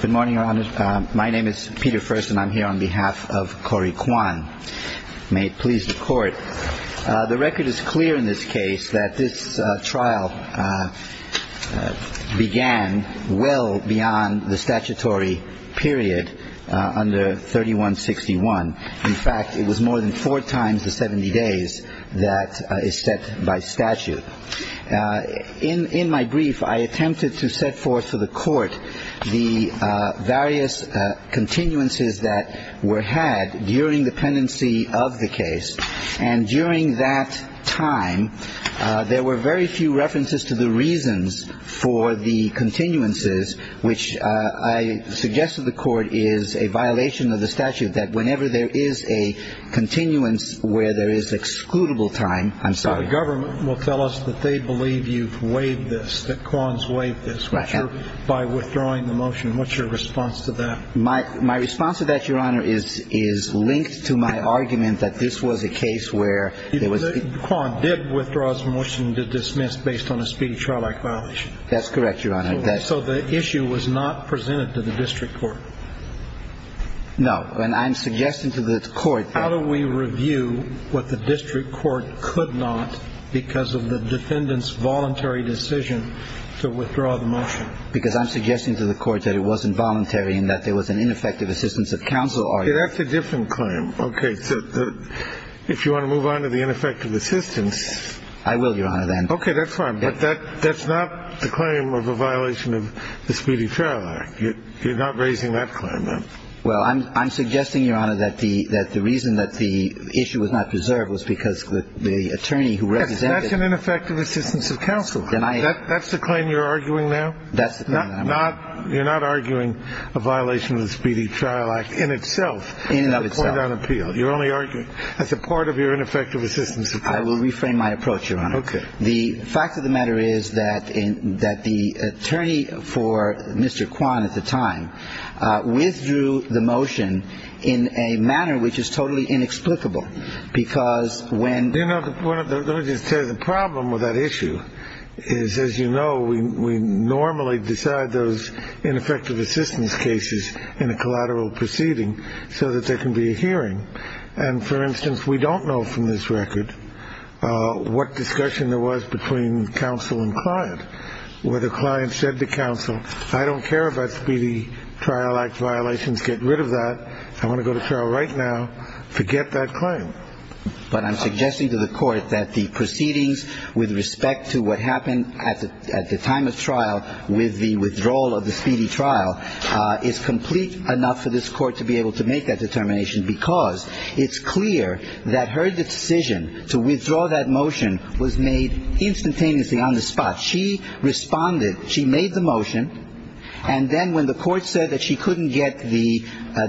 Good morning, Your Honor. My name is Peter Furst, and I'm here on behalf of Corey Kwan. May it please the Court. The record is clear in this case that this trial began well beyond the statutory period under 3161. In fact, it was more than four times the 70 days that is set by statute. In my brief, I attempted to set forth to the Court the various continuances that were had during the pendency of the case. And during that time, there were very few references to the reasons for the continuances, which I suggest to the Court is a violation of the statute that whenever there is a continuance where there is excludable time. I'm sorry. So the government will tell us that they believe you've waived this, that Kwan's waived this by withdrawing the motion. What's your response to that? My response to that, Your Honor, is linked to my argument that this was a case where there was – Kwan did withdraw his motion to dismiss based on a speedy trial-like violation. That's correct, Your Honor. So the issue was not presented to the district court? No. And I'm suggesting to the Court – But not because of the defendant's voluntary decision to withdraw the motion? Because I'm suggesting to the Court that it wasn't voluntary and that there was an ineffective assistance of counsel argument. That's a different claim. Okay. If you want to move on to the ineffective assistance – I will, Your Honor, then. Okay. That's fine. But that's not the claim of a violation of the Speedy Trial Act. You're not raising that claim, then? Well, I'm suggesting, Your Honor, that the reason that the issue was not preserved was because the attorney who represented – That's an ineffective assistance of counsel. Then I – That's the claim you're arguing now? That's the claim that I'm arguing. You're not arguing a violation of the Speedy Trial Act in itself? In and of itself. In the court on appeal. You're only arguing as a part of your ineffective assistance of counsel. I will reframe my approach, Your Honor. Okay. The fact of the matter is that the attorney for Mr. Kwan at the time withdrew the motion in a manner which is totally inexplicable because when – You know, let me just tell you, the problem with that issue is, as you know, we normally decide those ineffective assistance cases in a collateral proceeding so that there can be a hearing. And, for instance, we don't know from this record what discussion there was between counsel and client. Whether client said to counsel, I don't care about Speedy Trial Act violations. Get rid of that. I want to go to trial right now. Forget that claim. But I'm suggesting to the court that the proceedings with respect to what happened at the time of trial with the withdrawal of the Speedy trial is complete enough for this court to be able to make that determination because it's clear that her decision to withdraw that motion was made instantaneously on the spot. She responded. She made the motion. And then when the court said that she couldn't get the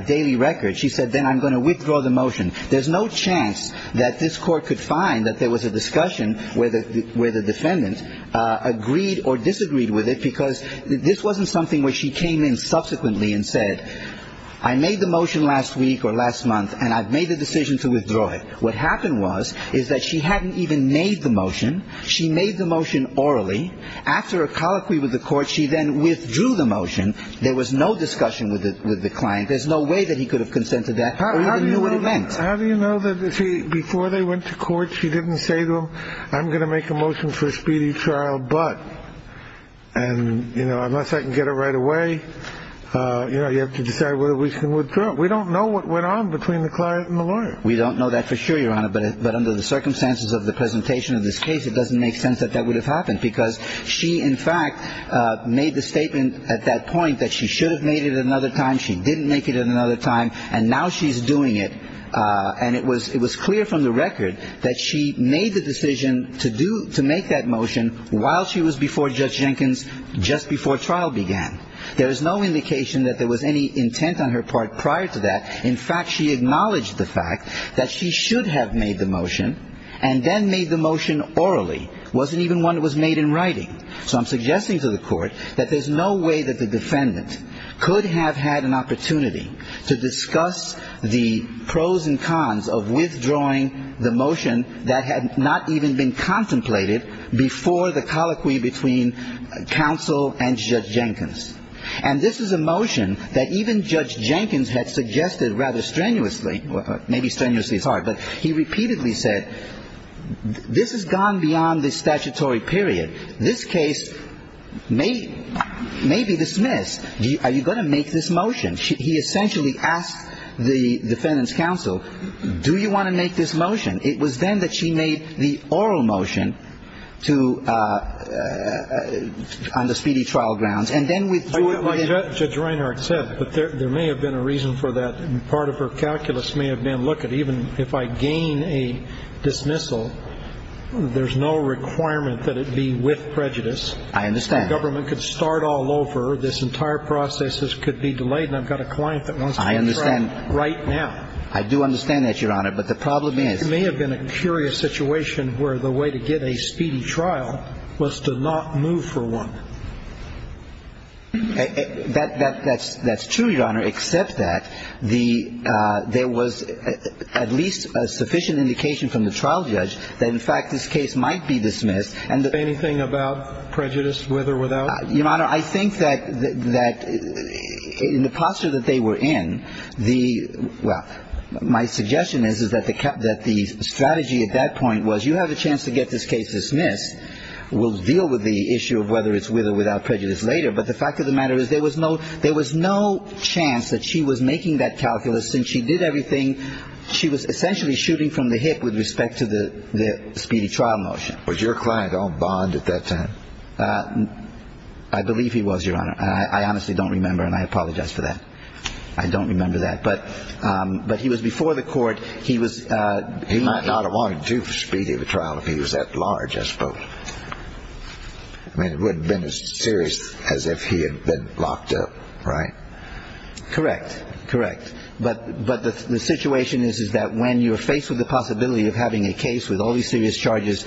daily record, she said, then I'm going to withdraw the motion. There's no chance that this court could find that there was a discussion where the defendant agreed or disagreed with it because this wasn't something where she came in subsequently and said, I made the motion last week or last month, and I've made the decision to withdraw it. What happened was is that she hadn't even made the motion. She made the motion orally. After a colloquy with the court, she then withdrew the motion. There was no discussion with the client. There's no way that he could have consented to that or even knew what it meant. How do you know that before they went to court, she didn't say to him, I'm going to make a motion for Speedy trial, but unless I can get it right away, you have to decide whether we can withdraw. We don't know what went on between the client and the lawyer. We don't know that for sure, Your Honor, but under the circumstances of the presentation of this case, it doesn't make sense that that would have happened because she, in fact, made the statement at that point that she should have made it another time. She didn't make it another time. And now she's doing it. And it was clear from the record that she made the decision to make that motion while she was before Judge Jenkins just before trial began. There is no indication that there was any intent on her part prior to that. In fact, she acknowledged the fact that she should have made the motion and then made the motion orally. It wasn't even one that was made in writing. So I'm suggesting to the court that there's no way that the defendant could have had an opportunity to discuss the pros and cons of withdrawing the motion that had not even been contemplated before the colloquy between counsel and Judge Jenkins. And this is a motion that even Judge Jenkins had suggested rather strenuously, maybe strenuously is hard, but he repeatedly said, this has gone beyond the statutory period. This case may be dismissed. Are you going to make this motion? He essentially asked the defendant's counsel, do you want to make this motion? It was then that she made the oral motion on the speedy trial grounds. And then with the ---- Judge Reinhart said, but there may have been a reason for that. Part of her calculus may have been, look, even if I gain a dismissal, there's no requirement that it be with prejudice. I understand. The government could start all over. This entire process could be delayed, and I've got a client that wants to be tried right now. I understand. I do understand that, Your Honor. But the problem is ---- It may have been a curious situation where the way to get a speedy trial was to not move for one. That's true, Your Honor, except that there was at least a sufficient indication from the trial judge that, in fact, this case might be dismissed. Anything about prejudice, with or without? Your Honor, I think that in the posture that they were in, the ---- well, my suggestion is that the strategy at that point was you have a chance to get this case dismissed. We'll deal with the issue of whether it's with or without prejudice later. But the fact of the matter is there was no chance that she was making that calculus. Since she did everything, she was essentially shooting from the hip with respect to the speedy trial motion. Was your client on bond at that time? I believe he was, Your Honor. I honestly don't remember, and I apologize for that. I don't remember that. But he was before the court. He was ---- He might not have wanted to speedy the trial if he was that large, I suppose. I mean, it wouldn't have been as serious as if he had been locked up, right? Correct. Correct. But the situation is that when you're faced with the possibility of having a case with all these serious charges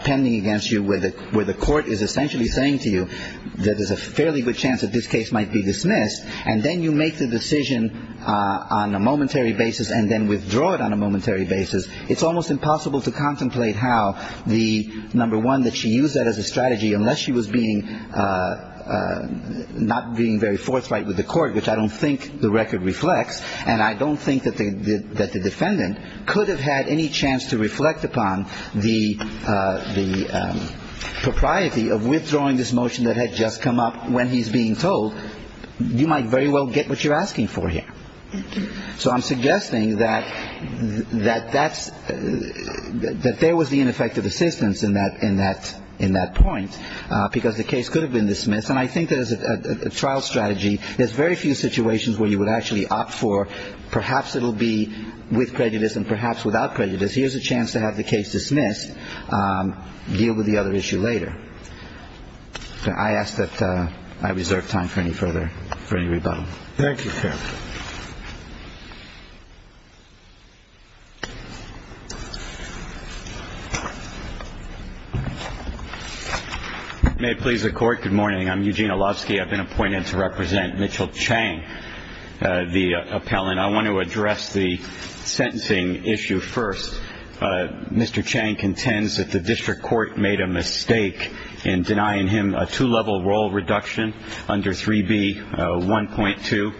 pending against you where the court is essentially saying to you that there's a fairly good chance that this case might be dismissed, and then you make the decision on a momentary basis and then withdraw it on a momentary basis, it's almost impossible to contemplate how the, number one, that she used that as a strategy unless she was being ---- not being very forthright with the court, which I don't think the record reflects. And I don't think that the defendant could have had any chance to reflect upon the propriety of withdrawing this motion that had just come up when he's being told, you might very well get what you're asking for here. So I'm suggesting that that's ---- that there was the ineffective assistance in that point because the case could have been dismissed. And I think that as a trial strategy, there's very few situations where you would actually opt for perhaps it will be with prejudice and perhaps without prejudice. Here's a chance to have the case dismissed, deal with the other issue later. I ask that I reserve time for any further, for any rebuttal. Thank you, Captain. May it please the Court. Good morning. I'm Eugene Olowski. I've been appointed to represent Mitchell Chang, the appellant. I want to address the sentencing issue first. Mr. Chang contends that the district court made a mistake in denying him a two-level role reduction under 3B1.2.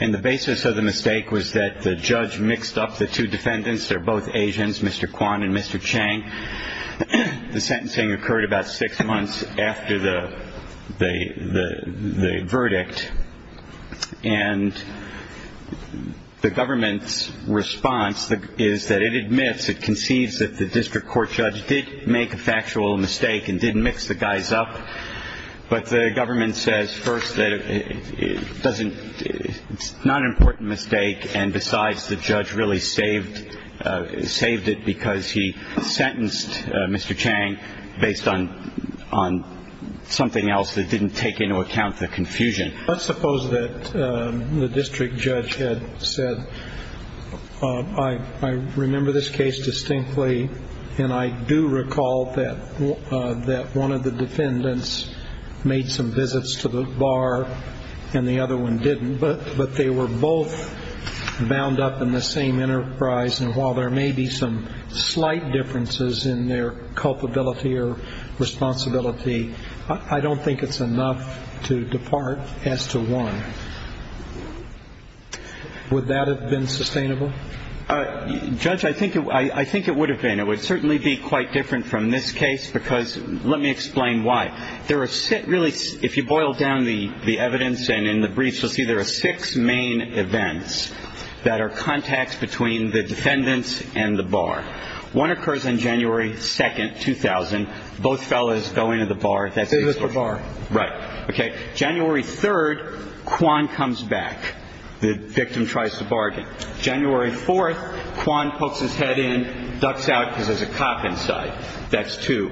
And the basis of the mistake was that the judge mixed up the two defendants. They're both Asians, Mr. Kwan and Mr. Chang. The sentencing occurred about six months after the verdict. And the government's response is that it admits, it conceives that the district court judge did make a factual mistake and did mix the guys up. But the government says first that it doesn't ---- it's not an important mistake and besides the judge really saved it because he sentenced Mr. Chang based on something else that didn't take into account the confusion. Let's suppose that the district judge had said, I remember this case distinctly and I do recall that one of the defendants made some visits to the bar and the other one didn't. But they were both bound up in the same enterprise. And while there may be some slight differences in their culpability or responsibility, I don't think it's enough to depart as to one. Would that have been sustainable? Judge, I think it would have been. It would certainly be quite different from this case because let me explain why. There are really, if you boil down the evidence and in the briefs, you'll see there are six main events that are contacts between the defendants and the bar. One occurs on January 2nd, 2000. Both fellows go into the bar. They visit the bar. Right. Okay. January 3rd, Quan comes back. The victim tries to bargain. January 4th, Quan pokes his head in, ducks out because there's a cop inside. That's two.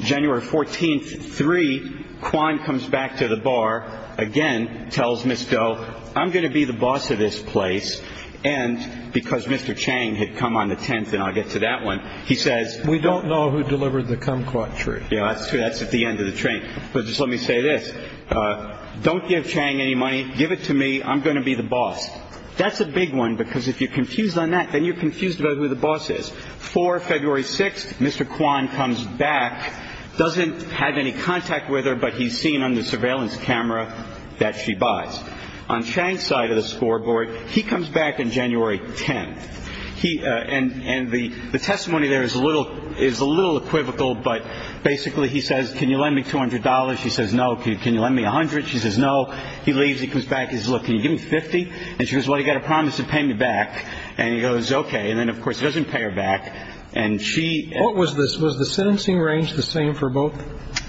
January 14th, 3, Quan comes back to the bar. Again, tells Ms. Doe, I'm going to be the boss of this place. And because Mr. Chang had come on the 10th, and I'll get to that one, he says. We don't know who delivered the kumquat tree. Yeah, that's true. That's at the end of the train. But just let me say this. Don't give Chang any money. Give it to me. I'm going to be the boss. That's a big one because if you're confused on that, then you're confused about who the boss is. February 6th, Mr. Quan comes back. Doesn't have any contact with her, but he's seen on the surveillance camera that she buys. On Chang's side of the scoreboard, he comes back on January 10th. And the testimony there is a little equivocal, but basically he says, can you lend me $200? She says, no. Can you lend me $100? She says, no. He leaves. He comes back. He says, look, can you give me $50? And she goes, well, you've got to promise to pay me back. And he goes, okay. And then, of course, he doesn't pay her back. And she. What was this? Was the sentencing range the same for both?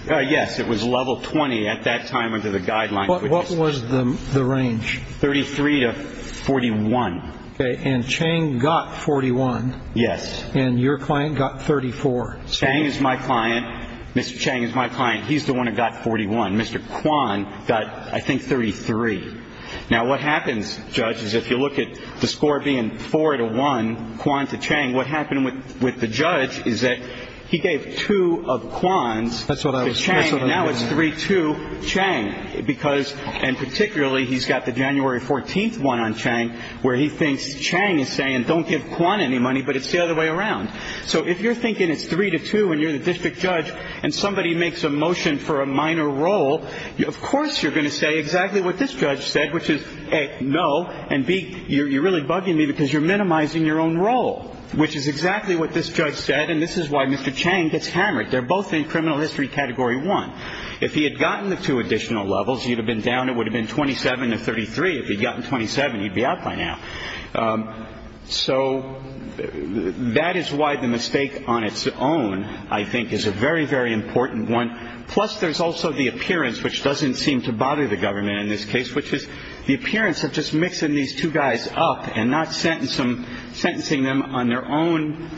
Yes. It was level 20 at that time under the guidelines. What was the range? 33 to 41. Okay. And Chang got 41. Yes. And your client got 34. Chang is my client. Mr. Chang is my client. He's the one who got 41. Mr. Quan got, I think, 33. Now, what happens, judges, if you look at the score being 4 to 1, Quan to Chang, what happened with the judge is that he gave two of Quan's to Chang. That's what I was. And now it's 3 to Chang. Because, and particularly, he's got the January 14th one on Chang where he thinks Chang is saying don't give Quan any money, but it's the other way around. So if you're thinking it's 3 to 2 and you're the district judge and somebody makes a motion for a minor role, of course you're going to say exactly what this judge said, which is, A, no, and, B, you're really bugging me because you're minimizing your own role, which is exactly what this judge said. And this is why Mr. Chang gets hammered. They're both in criminal history category 1. If he had gotten the two additional levels, he would have been down. It would have been 27 to 33. If he had gotten 27, he'd be out by now. So that is why the mistake on its own, I think, is a very, very important one. Plus there's also the appearance, which doesn't seem to bother the government in this case, which is the appearance of just mixing these two guys up and not sentencing them on their own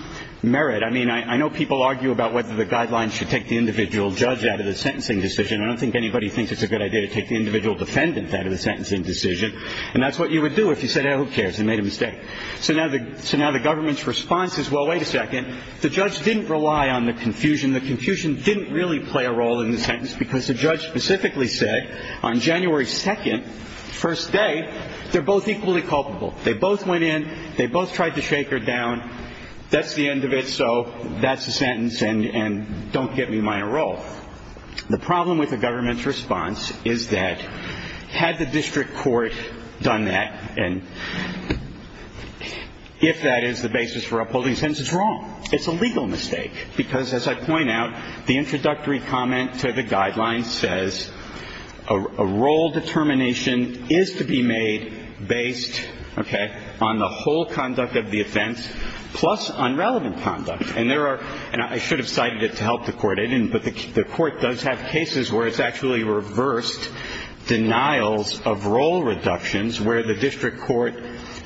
merit. I mean, I know people argue about whether the guidelines should take the individual judge out of the sentencing decision. I don't think anybody thinks it's a good idea to take the individual defendant out of the sentencing decision. And that's what you would do if you said, oh, who cares? You made a mistake. So now the government's response is, well, wait a second. The judge didn't rely on the confusion. The confusion didn't really play a role in the sentence because the judge specifically said on January 2nd, first day, they're both equally culpable. They both went in. They both tried to shake her down. That's the end of it, so that's the sentence, and don't get me my role. The problem with the government's response is that had the district court done that, and if that is the basis for upholding the sentence, it's wrong. It's a legal mistake because, as I point out, the introductory comment to the guidelines says, a role determination is to be made based, okay, on the whole conduct of the offense plus on relevant conduct. And there are – and I should have cited it to help the court. But the court does have cases where it's actually reversed denials of role reductions where the district court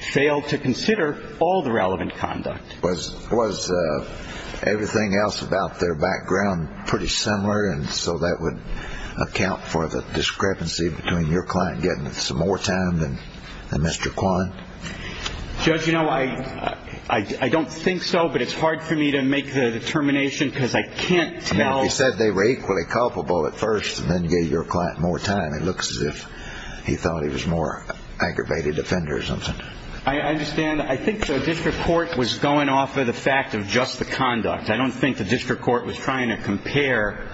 failed to consider all the relevant conduct. Was everything else about their background pretty similar, and so that would account for the discrepancy between your client getting some more time than Mr. Kwan? Judge, you know, I don't think so, but it's hard for me to make the determination because I can't tell. I mean, if he said they were equally culpable at first and then gave your client more time, it looks as if he thought he was a more aggravated offender or something. I understand. I think the district court was going off of the fact of just the conduct. I don't think the district court was trying to compare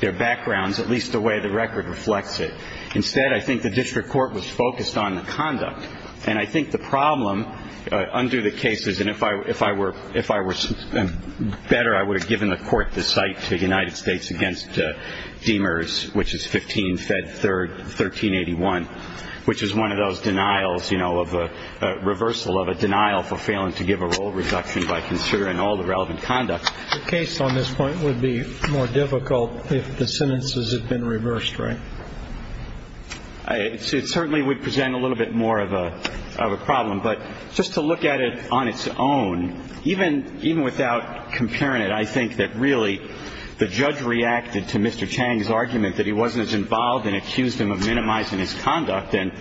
their backgrounds, at least the way the record reflects it. Instead, I think the district court was focused on the conduct. And I think the problem under the case is – and if I were better, I would have given the court the cite to the United States against Demers, which is 15 Fed 1381, which is one of those denials, you know, of a reversal of a denial for failing to give a role reduction by considering all the relevant conduct. The case on this point would be more difficult if the sentences had been reversed, right? It certainly would present a little bit more of a problem. But just to look at it on its own, even without comparing it, I think that really the judge reacted to Mr. Chang's argument that he wasn't as involved and accused him of minimizing his conduct. And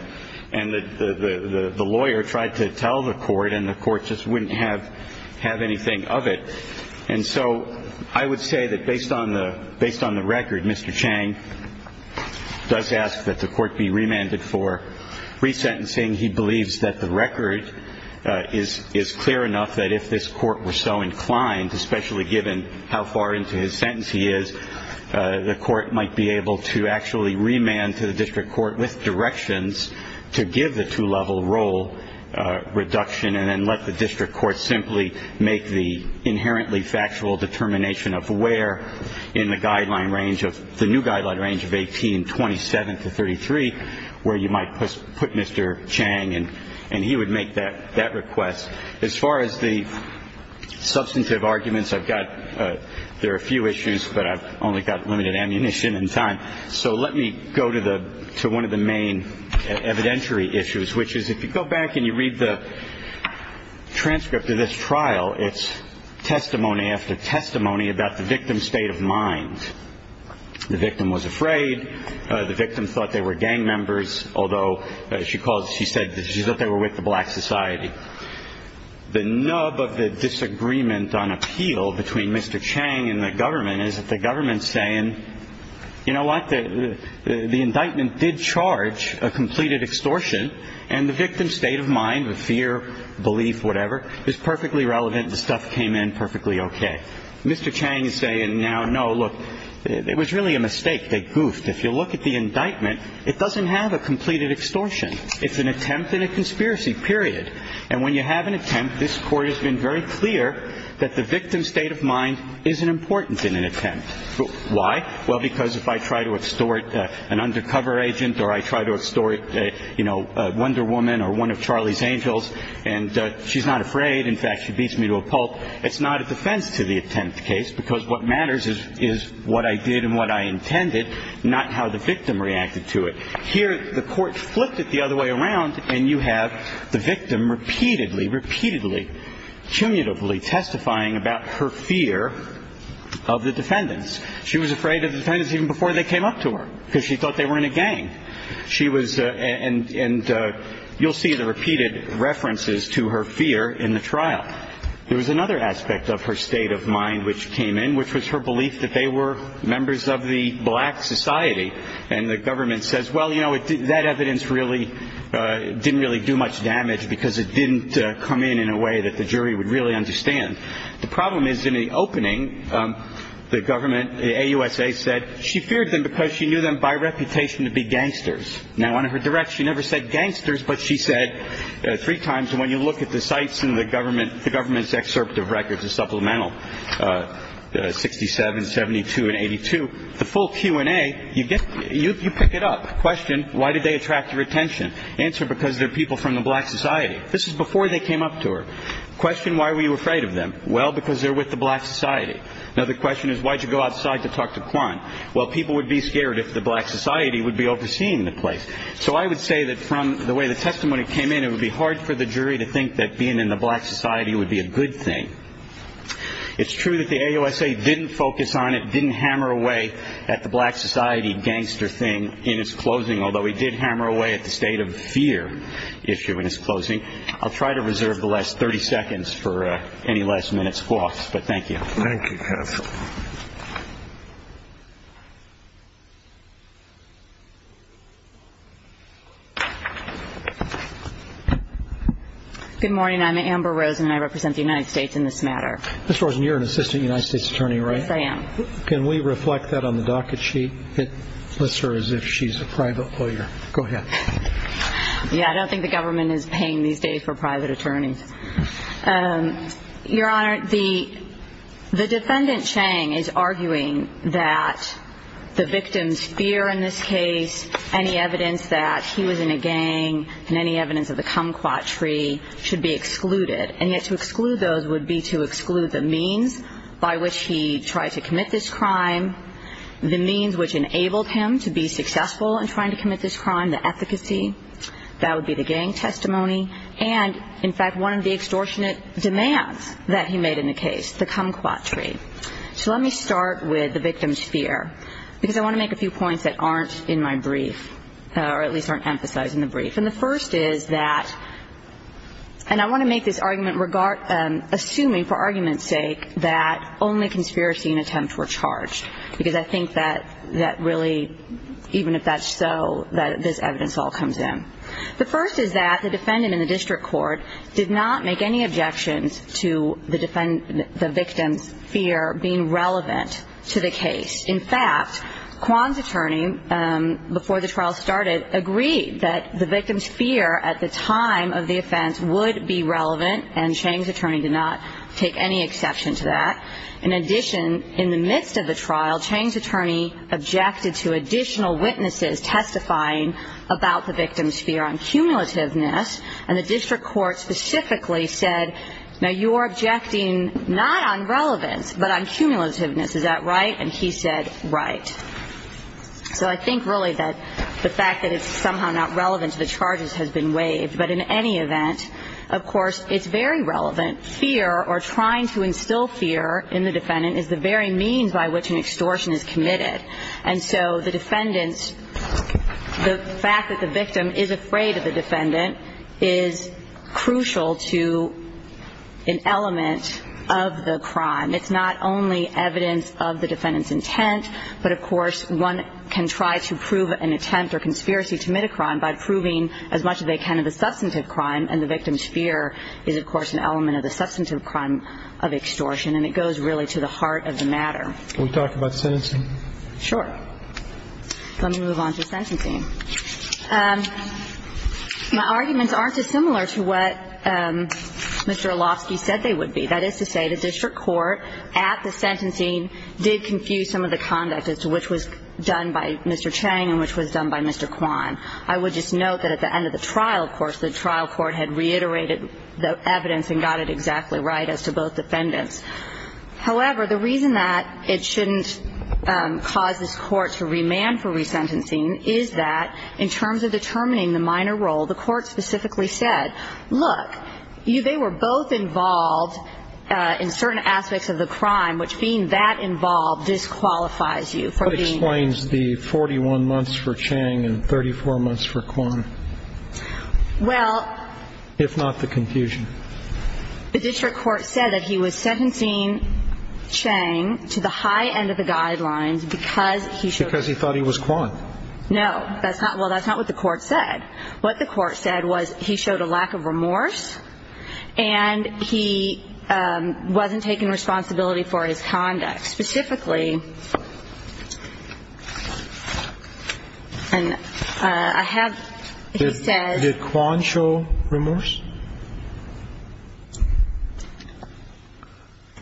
the lawyer tried to tell the court, and the court just wouldn't have anything of it. And so I would say that based on the record, Mr. Chang does ask that the court be remanded for resentencing. He believes that the record is clear enough that if this court were so inclined, especially given how far into his sentence he is, the court might be able to actually remand to the district court with directions to give the two-level role reduction and then let the district court simply make the inherently factual determination of where in the guideline range, the new guideline range of 1827 to 1833, where you might put Mr. Chang. And he would make that request. As far as the substantive arguments, I've got – there are a few issues, but I've only got limited ammunition and time. So let me go to the – to one of the main evidentiary issues, which is if you go back and you read the transcript of this trial, it's testimony after testimony about the victim's state of mind. The victim was afraid. The victim thought they were gang members, although she called – she said that she thought they were with the black society. The nub of the disagreement on appeal between Mr. Chang and the government is that the government is saying, you know what, the indictment did charge a completed extortion, and the victim's state of mind of fear, belief, whatever, is perfectly relevant. The stuff came in perfectly okay. Mr. Chang is saying now, no, look, it was really a mistake. They goofed. If you look at the indictment, it doesn't have a completed extortion. It's an attempt and a conspiracy, period. And when you have an attempt, this court has been very clear that the victim's state of mind is an importance in an attempt. Why? Well, because if I try to extort an undercover agent or I try to extort, you know, a Wonder Woman or one of Charlie's Angels, and she's not afraid, in fact, she beats me to a pulp, it's not a defense to the attempt case, because what matters is what I did and what I intended, not how the victim reacted to it. Here, the court flipped it the other way around, and you have the victim repeatedly, repeatedly, cumulatively testifying about her fear of the defendants. She was afraid of the defendants even before they came up to her because she thought they were in a gang. She was ‑‑ and you'll see the repeated references to her fear in the trial. There was another aspect of her state of mind which came in, which was her belief that they were members of the black society, and the government says, well, you know, that evidence really didn't really do much damage because it didn't come in in a way that the jury would really understand. The problem is in the opening, the government, the AUSA, said she feared them because she knew them by reputation to be gangsters. Now, on her direct, she never said gangsters, but she said three times, and when you look at the sites in the government, the government's excerpt of records, which is a supplemental, 67, 72, and 82, the full Q&A, you pick it up. Question, why did they attract your attention? Answer, because they're people from the black society. This is before they came up to her. Question, why were you afraid of them? Well, because they're with the black society. Another question is, why did you go outside to talk to Quan? Well, people would be scared if the black society would be overseeing the place. So I would say that from the way the testimony came in, it would be hard for the jury to think that being in the black society would be a good thing. It's true that the AUSA didn't focus on it, didn't hammer away at the black society gangster thing in its closing, although it did hammer away at the state of fear issue in its closing. I'll try to reserve the last 30 seconds for any last-minute squawks, but thank you. Thank you, counsel. Good morning. I'm Amber Rosen, and I represent the United States in this matter. Ms. Rosen, you're an assistant United States attorney, right? Yes, I am. Can we reflect that on the docket sheet? It lists her as if she's a private lawyer. Go ahead. Yeah, I don't think the government is paying these days for private attorneys. Your Honor, the defendant, Chang, is arguing that the victim's fear in this case, any evidence that he was in a gang and any evidence of the kumquat tree should be excluded. And yet to exclude those would be to exclude the means by which he tried to commit this crime, the means which enabled him to be successful in trying to commit this crime, the efficacy. That would be the gang testimony. And, in fact, one of the extortionate demands that he made in the case, the kumquat tree. So let me start with the victim's fear, because I want to make a few points that aren't in my brief or at least aren't emphasized in the brief. And the first is that, and I want to make this argument assuming for argument's sake that only conspiracy and attempts were charged, because I think that really, even if that's so, that this evidence all comes in. The first is that the defendant in the district court did not make any objections to the victim's fear being relevant to the case. In fact, Kwan's attorney, before the trial started, agreed that the victim's fear at the time of the offense would be relevant, and Chang's attorney did not take any exception to that. In addition, in the midst of the trial, Chang's attorney objected to additional witnesses testifying about the victim's fear on cumulativeness, and the district court specifically said, now you are objecting not on relevance but on cumulativeness. Is that right? And he said, right. So I think really that the fact that it's somehow not relevant to the charges has been waived. But in any event, of course, it's very relevant. The second element, fear, or trying to instill fear in the defendant is the very means by which an extortion is committed. And so the defendant's, the fact that the victim is afraid of the defendant is crucial to an element of the crime. It's not only evidence of the defendant's intent, but of course one can try to prove an attempt or conspiracy to commit a crime by proving as much as they can of the substantive crime, and the victim's fear is, of course, an element of the substantive crime of extortion. And it goes really to the heart of the matter. Can we talk about sentencing? Sure. Let me move on to sentencing. My arguments aren't dissimilar to what Mr. Olofsky said they would be. That is to say the district court at the sentencing did confuse some of the conduct as to which was done by Mr. Chang and which was done by Mr. Kwan. I would just note that at the end of the trial, of course, the trial court had reiterated the evidence and got it exactly right as to both defendants. However, the reason that it shouldn't cause this court to remand for resentencing is that in terms of determining the minor role, the court specifically said, look, they were both involved in certain aspects of the crime, And that explains the 41 months for Chang and 34 months for Kwan, if not the confusion. Well, the district court said that he was sentencing Chang to the high end of the guidelines because he showed Because he thought he was Kwan. No. Well, that's not what the court said. What the court said was he showed a lack of remorse and he wasn't taking responsibility for his conduct. Specifically, I have, he said Did Kwan show remorse?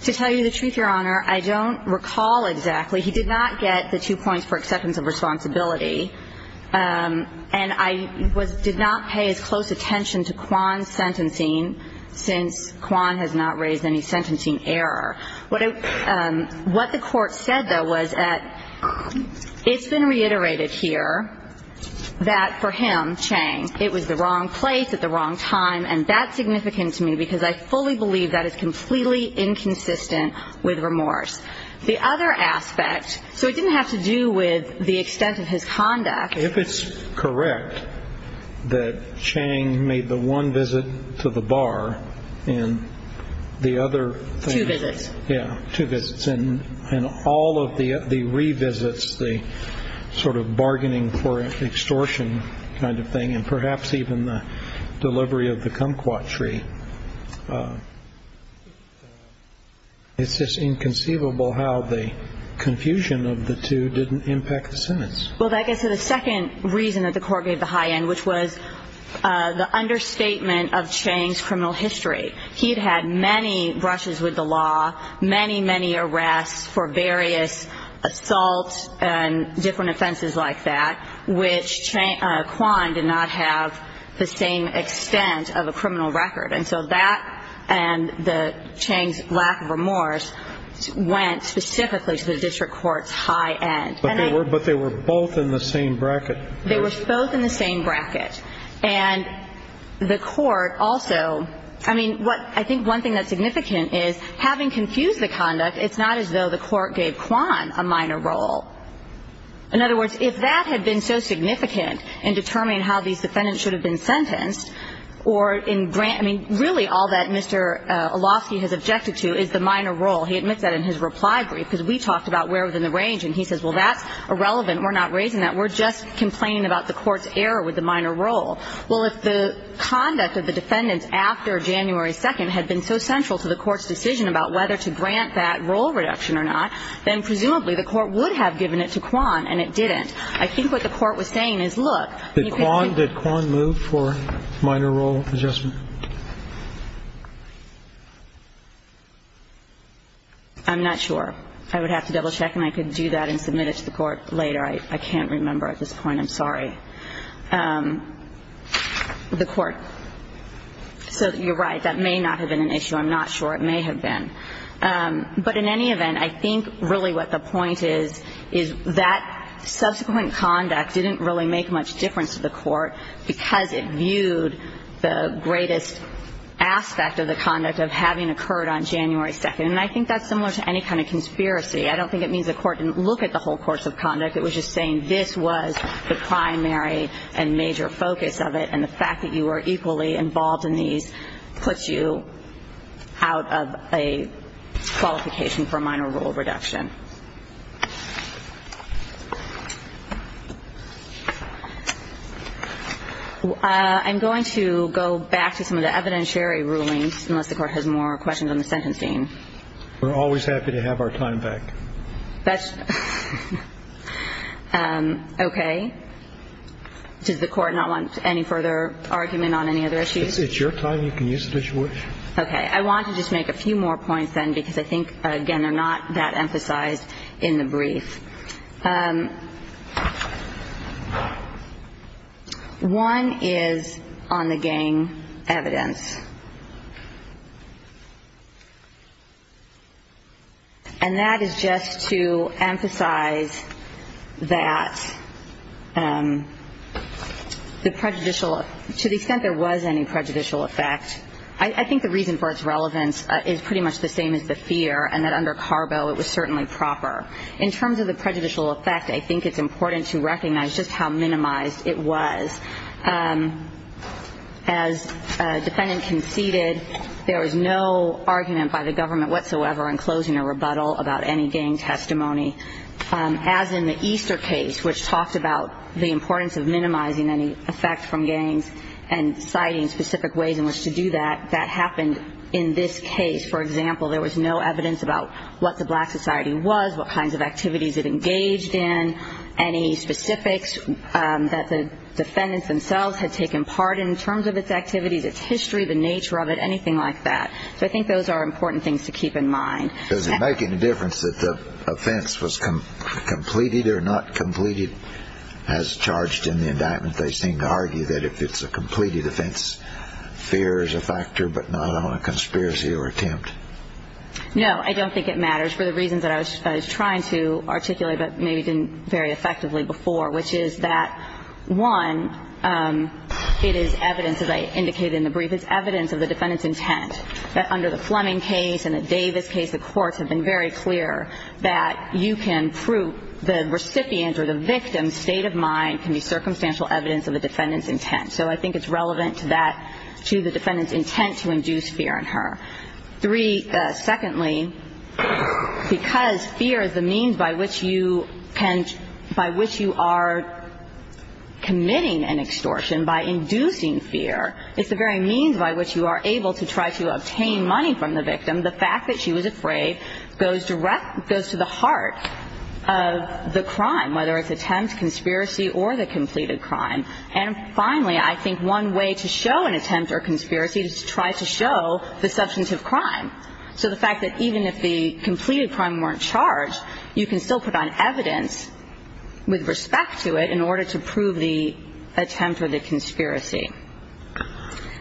To tell you the truth, Your Honor, I don't recall exactly. He did not get the two points for acceptance of responsibility. And I did not pay as close attention to Kwan's sentencing since Kwan has not raised any sentencing error. What the court said, though, was that it's been reiterated here that for him, Chang, it was the wrong place at the wrong time, and that's significant to me because I fully believe that is completely inconsistent with remorse. The other aspect, so it didn't have to do with the extent of his conduct. If it's correct that Chang made the one visit to the bar and the other thing Yeah, two visits. And all of the revisits, the sort of bargaining for extortion kind of thing and perhaps even the delivery of the kumquat tree, it's just inconceivable how the confusion of the two didn't impact the sentence. Well, that gets to the second reason that the court gave the high end, which was the understatement of Chang's criminal history. He had had many brushes with the law, many, many arrests for various assaults and different offenses like that, which Kwan did not have the same extent of a criminal record. And so that and Chang's lack of remorse went specifically to the district court's high end. But they were both in the same bracket. They were both in the same bracket. And the court also – I mean, what – I think one thing that's significant is having confused the conduct, it's not as though the court gave Kwan a minor role. In other words, if that had been so significant in determining how these defendants should have been sentenced or in grant – I mean, really all that Mr. Olofsky has objected to is the minor role. He admits that in his reply brief, because we talked about where within the range and he says, well, that's irrelevant. We're not raising that. We're just complaining about the court's error with the minor role. Well, if the conduct of the defendants after January 2nd had been so central to the court's decision about whether to grant that role reduction or not, then presumably the court would have given it to Kwan, and it didn't. I think what the court was saying is, look, you can – Did Kwan move for minor role adjustment? I'm not sure. I would have to double check, and I could do that and submit it to the court later. I can't remember at this point. I'm sorry. The court. So you're right. That may not have been an issue. I'm not sure. It may have been. But in any event, I think really what the point is, is that subsequent conduct didn't really make much difference to the court because it viewed the greatest aspect of the conduct of having occurred on January 2nd. And I think that's similar to any kind of conspiracy. I don't think it means the court didn't look at the whole course of conduct. It was just saying this was the primary and major focus of it, and the fact that you were equally involved in these puts you out of a qualification for minor role reduction. I'm going to go back to some of the evidentiary rulings, unless the court has more questions on the sentencing. We're always happy to have our time back. That's okay. Does the court not want any further argument on any other issues? It's your time. You can use it as you wish. Okay. I want to just make a few more points then because I think, again, they're not that emphasized in the brief. One is on the gang evidence. And that is just to emphasize that to the extent there was any prejudicial effect, I think the reason for its relevance is pretty much the same as the fear and that under Carbo it was certainly proper. In terms of the prejudicial effect, I think it's important to recognize just how minimized it was. As a defendant conceded, there was no argument by the government whatsoever in closing a rebuttal about any gang testimony. As in the Easter case, which talked about the importance of minimizing any effect from gangs and citing specific ways in which to do that, that happened in this case. For example, there was no evidence about what the black society was, what kinds of activities it engaged in, any specifics that the defendants themselves had taken part in in terms of its activities, its history, the nature of it, anything like that. So I think those are important things to keep in mind. Does it make any difference that the offense was completed or not completed as charged in the indictment? They seem to argue that if it's a completed offense, fear is a factor but not on a conspiracy or attempt. No, I don't think it matters. For the reasons that I was trying to articulate but maybe didn't very effectively before, which is that, one, it is evidence, as I indicated in the brief, it's evidence of the defendant's intent, that under the Fleming case and the Davis case, the courts have been very clear that you can prove the recipient or the victim's state of mind can be circumstantial evidence of the defendant's intent. So I think it's relevant to that, to the defendant's intent to induce fear in her. Three, secondly, because fear is the means by which you can – by which you are committing an extortion, by inducing fear, it's the very means by which you are able to try to obtain money from the victim. The fact that she was afraid goes to the heart of the crime, whether it's attempt, conspiracy, or the completed crime. And finally, I think one way to show an attempt or conspiracy is to try to show the substantive crime. So the fact that even if the completed crime weren't charged, you can still put on evidence with respect to it in order to prove the attempt or the conspiracy.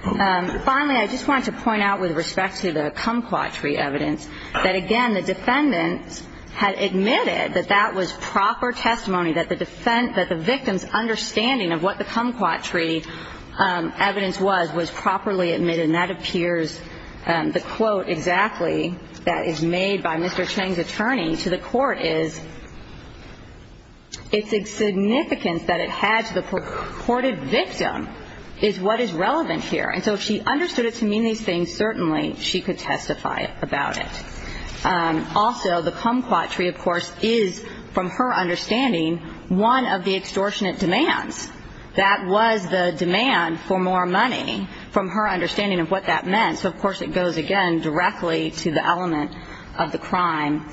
Finally, I just wanted to point out with respect to the kumquat tree evidence that, again, the defendant had admitted that that was proper testimony, that the victim's understanding of what the kumquat tree evidence was was properly admitted, and that appears – the quote exactly that is made by Mr. Cheng's attorney to the court is, it's significance that it had to the purported victim is what is relevant here. And so if she understood it to mean these things, certainly she could testify about it. Also, the kumquat tree, of course, is, from her understanding, one of the extortionate demands. That was the demand for more money from her understanding of what that meant. So, of course, it goes, again, directly to the element of the crime.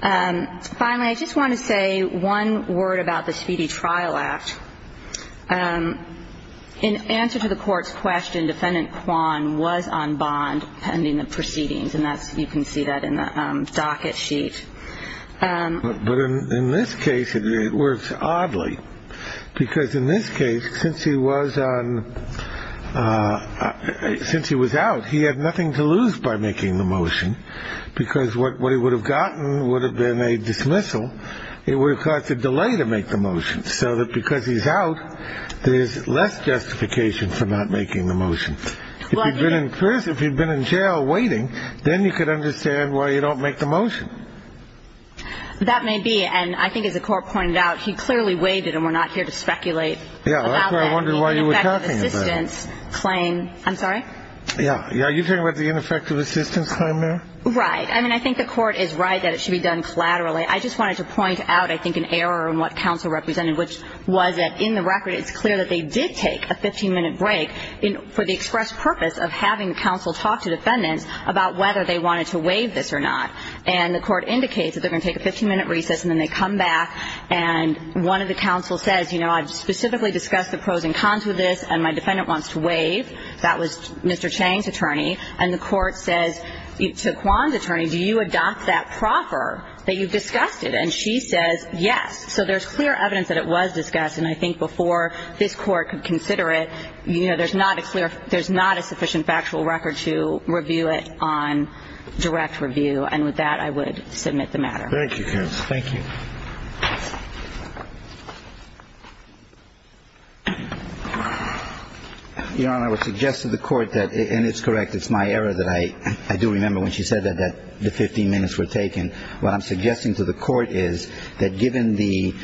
Finally, I just want to say one word about the Speedy Trial Act. In answer to the court's question, Defendant Kwan was on bond pending the proceedings, and you can see that in the docket sheet. But in this case, it works oddly, because in this case, since he was out, he had nothing to lose by making the motion, because what he would have gotten would have been a dismissal. It would have caused a delay to make the motion, so that because he's out, there's less justification for not making the motion. If he'd been in jail waiting, then you could understand why you don't make the motion. That may be, and I think, as the court pointed out, he clearly waited, and we're not here to speculate about that. Yeah, that's what I wondered why you were talking about. The ineffective assistance claim. I'm sorry? Yeah, are you talking about the ineffective assistance claim now? Right. I mean, I think the court is right that it should be done collaterally. I just wanted to point out, I think, an error in what counsel represented, which was that in the record, it's clear that they did take a 15-minute break for the express purpose of having counsel talk to defendants about whether they wanted to waive this or not. And the court indicates that they're going to take a 15-minute recess, and then they come back, and one of the counsel says, you know, I've specifically discussed the pros and cons with this, and my defendant wants to waive. That was Mr. Chang's attorney. And the court says to Kwan's attorney, do you adopt that proffer that you've discussed it? And she says, yes. So there's clear evidence that it was discussed, and I think before this court could consider it, you know, there's not a clear – there's not a sufficient factual record to review it on direct review. And with that, I would submit the matter. Thank you, counsel. Thank you. Your Honor, I would suggest to the court that – and it's correct, it's my error that I do remember when she said that the 15 minutes were taken. What I'm suggesting to the court is that given the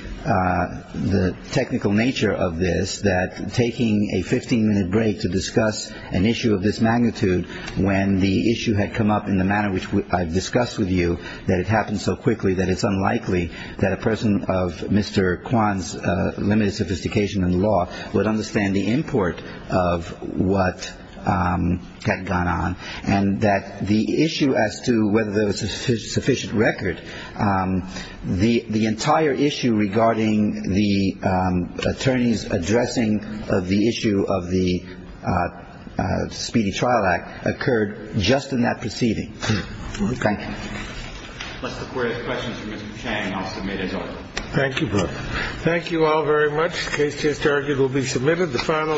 technical nature of this, that taking a 15-minute break to discuss an issue of this magnitude when the issue had come up in the manner which I've discussed with you, that it happened so quickly that it's unlikely that a person of Mr. Kwan's limited sophistication in law would understand the import of what had gone on, and that the issue as to whether there was a sufficient record, the entire issue regarding the attorney's addressing of the issue of the Speedy Trial Act occurred just in that proceeding. Thank you. Unless the Court has questions for Mr. Chang, I'll submit as ordered. Thank you, both. Thank you all very much. The case has now been submitted. The final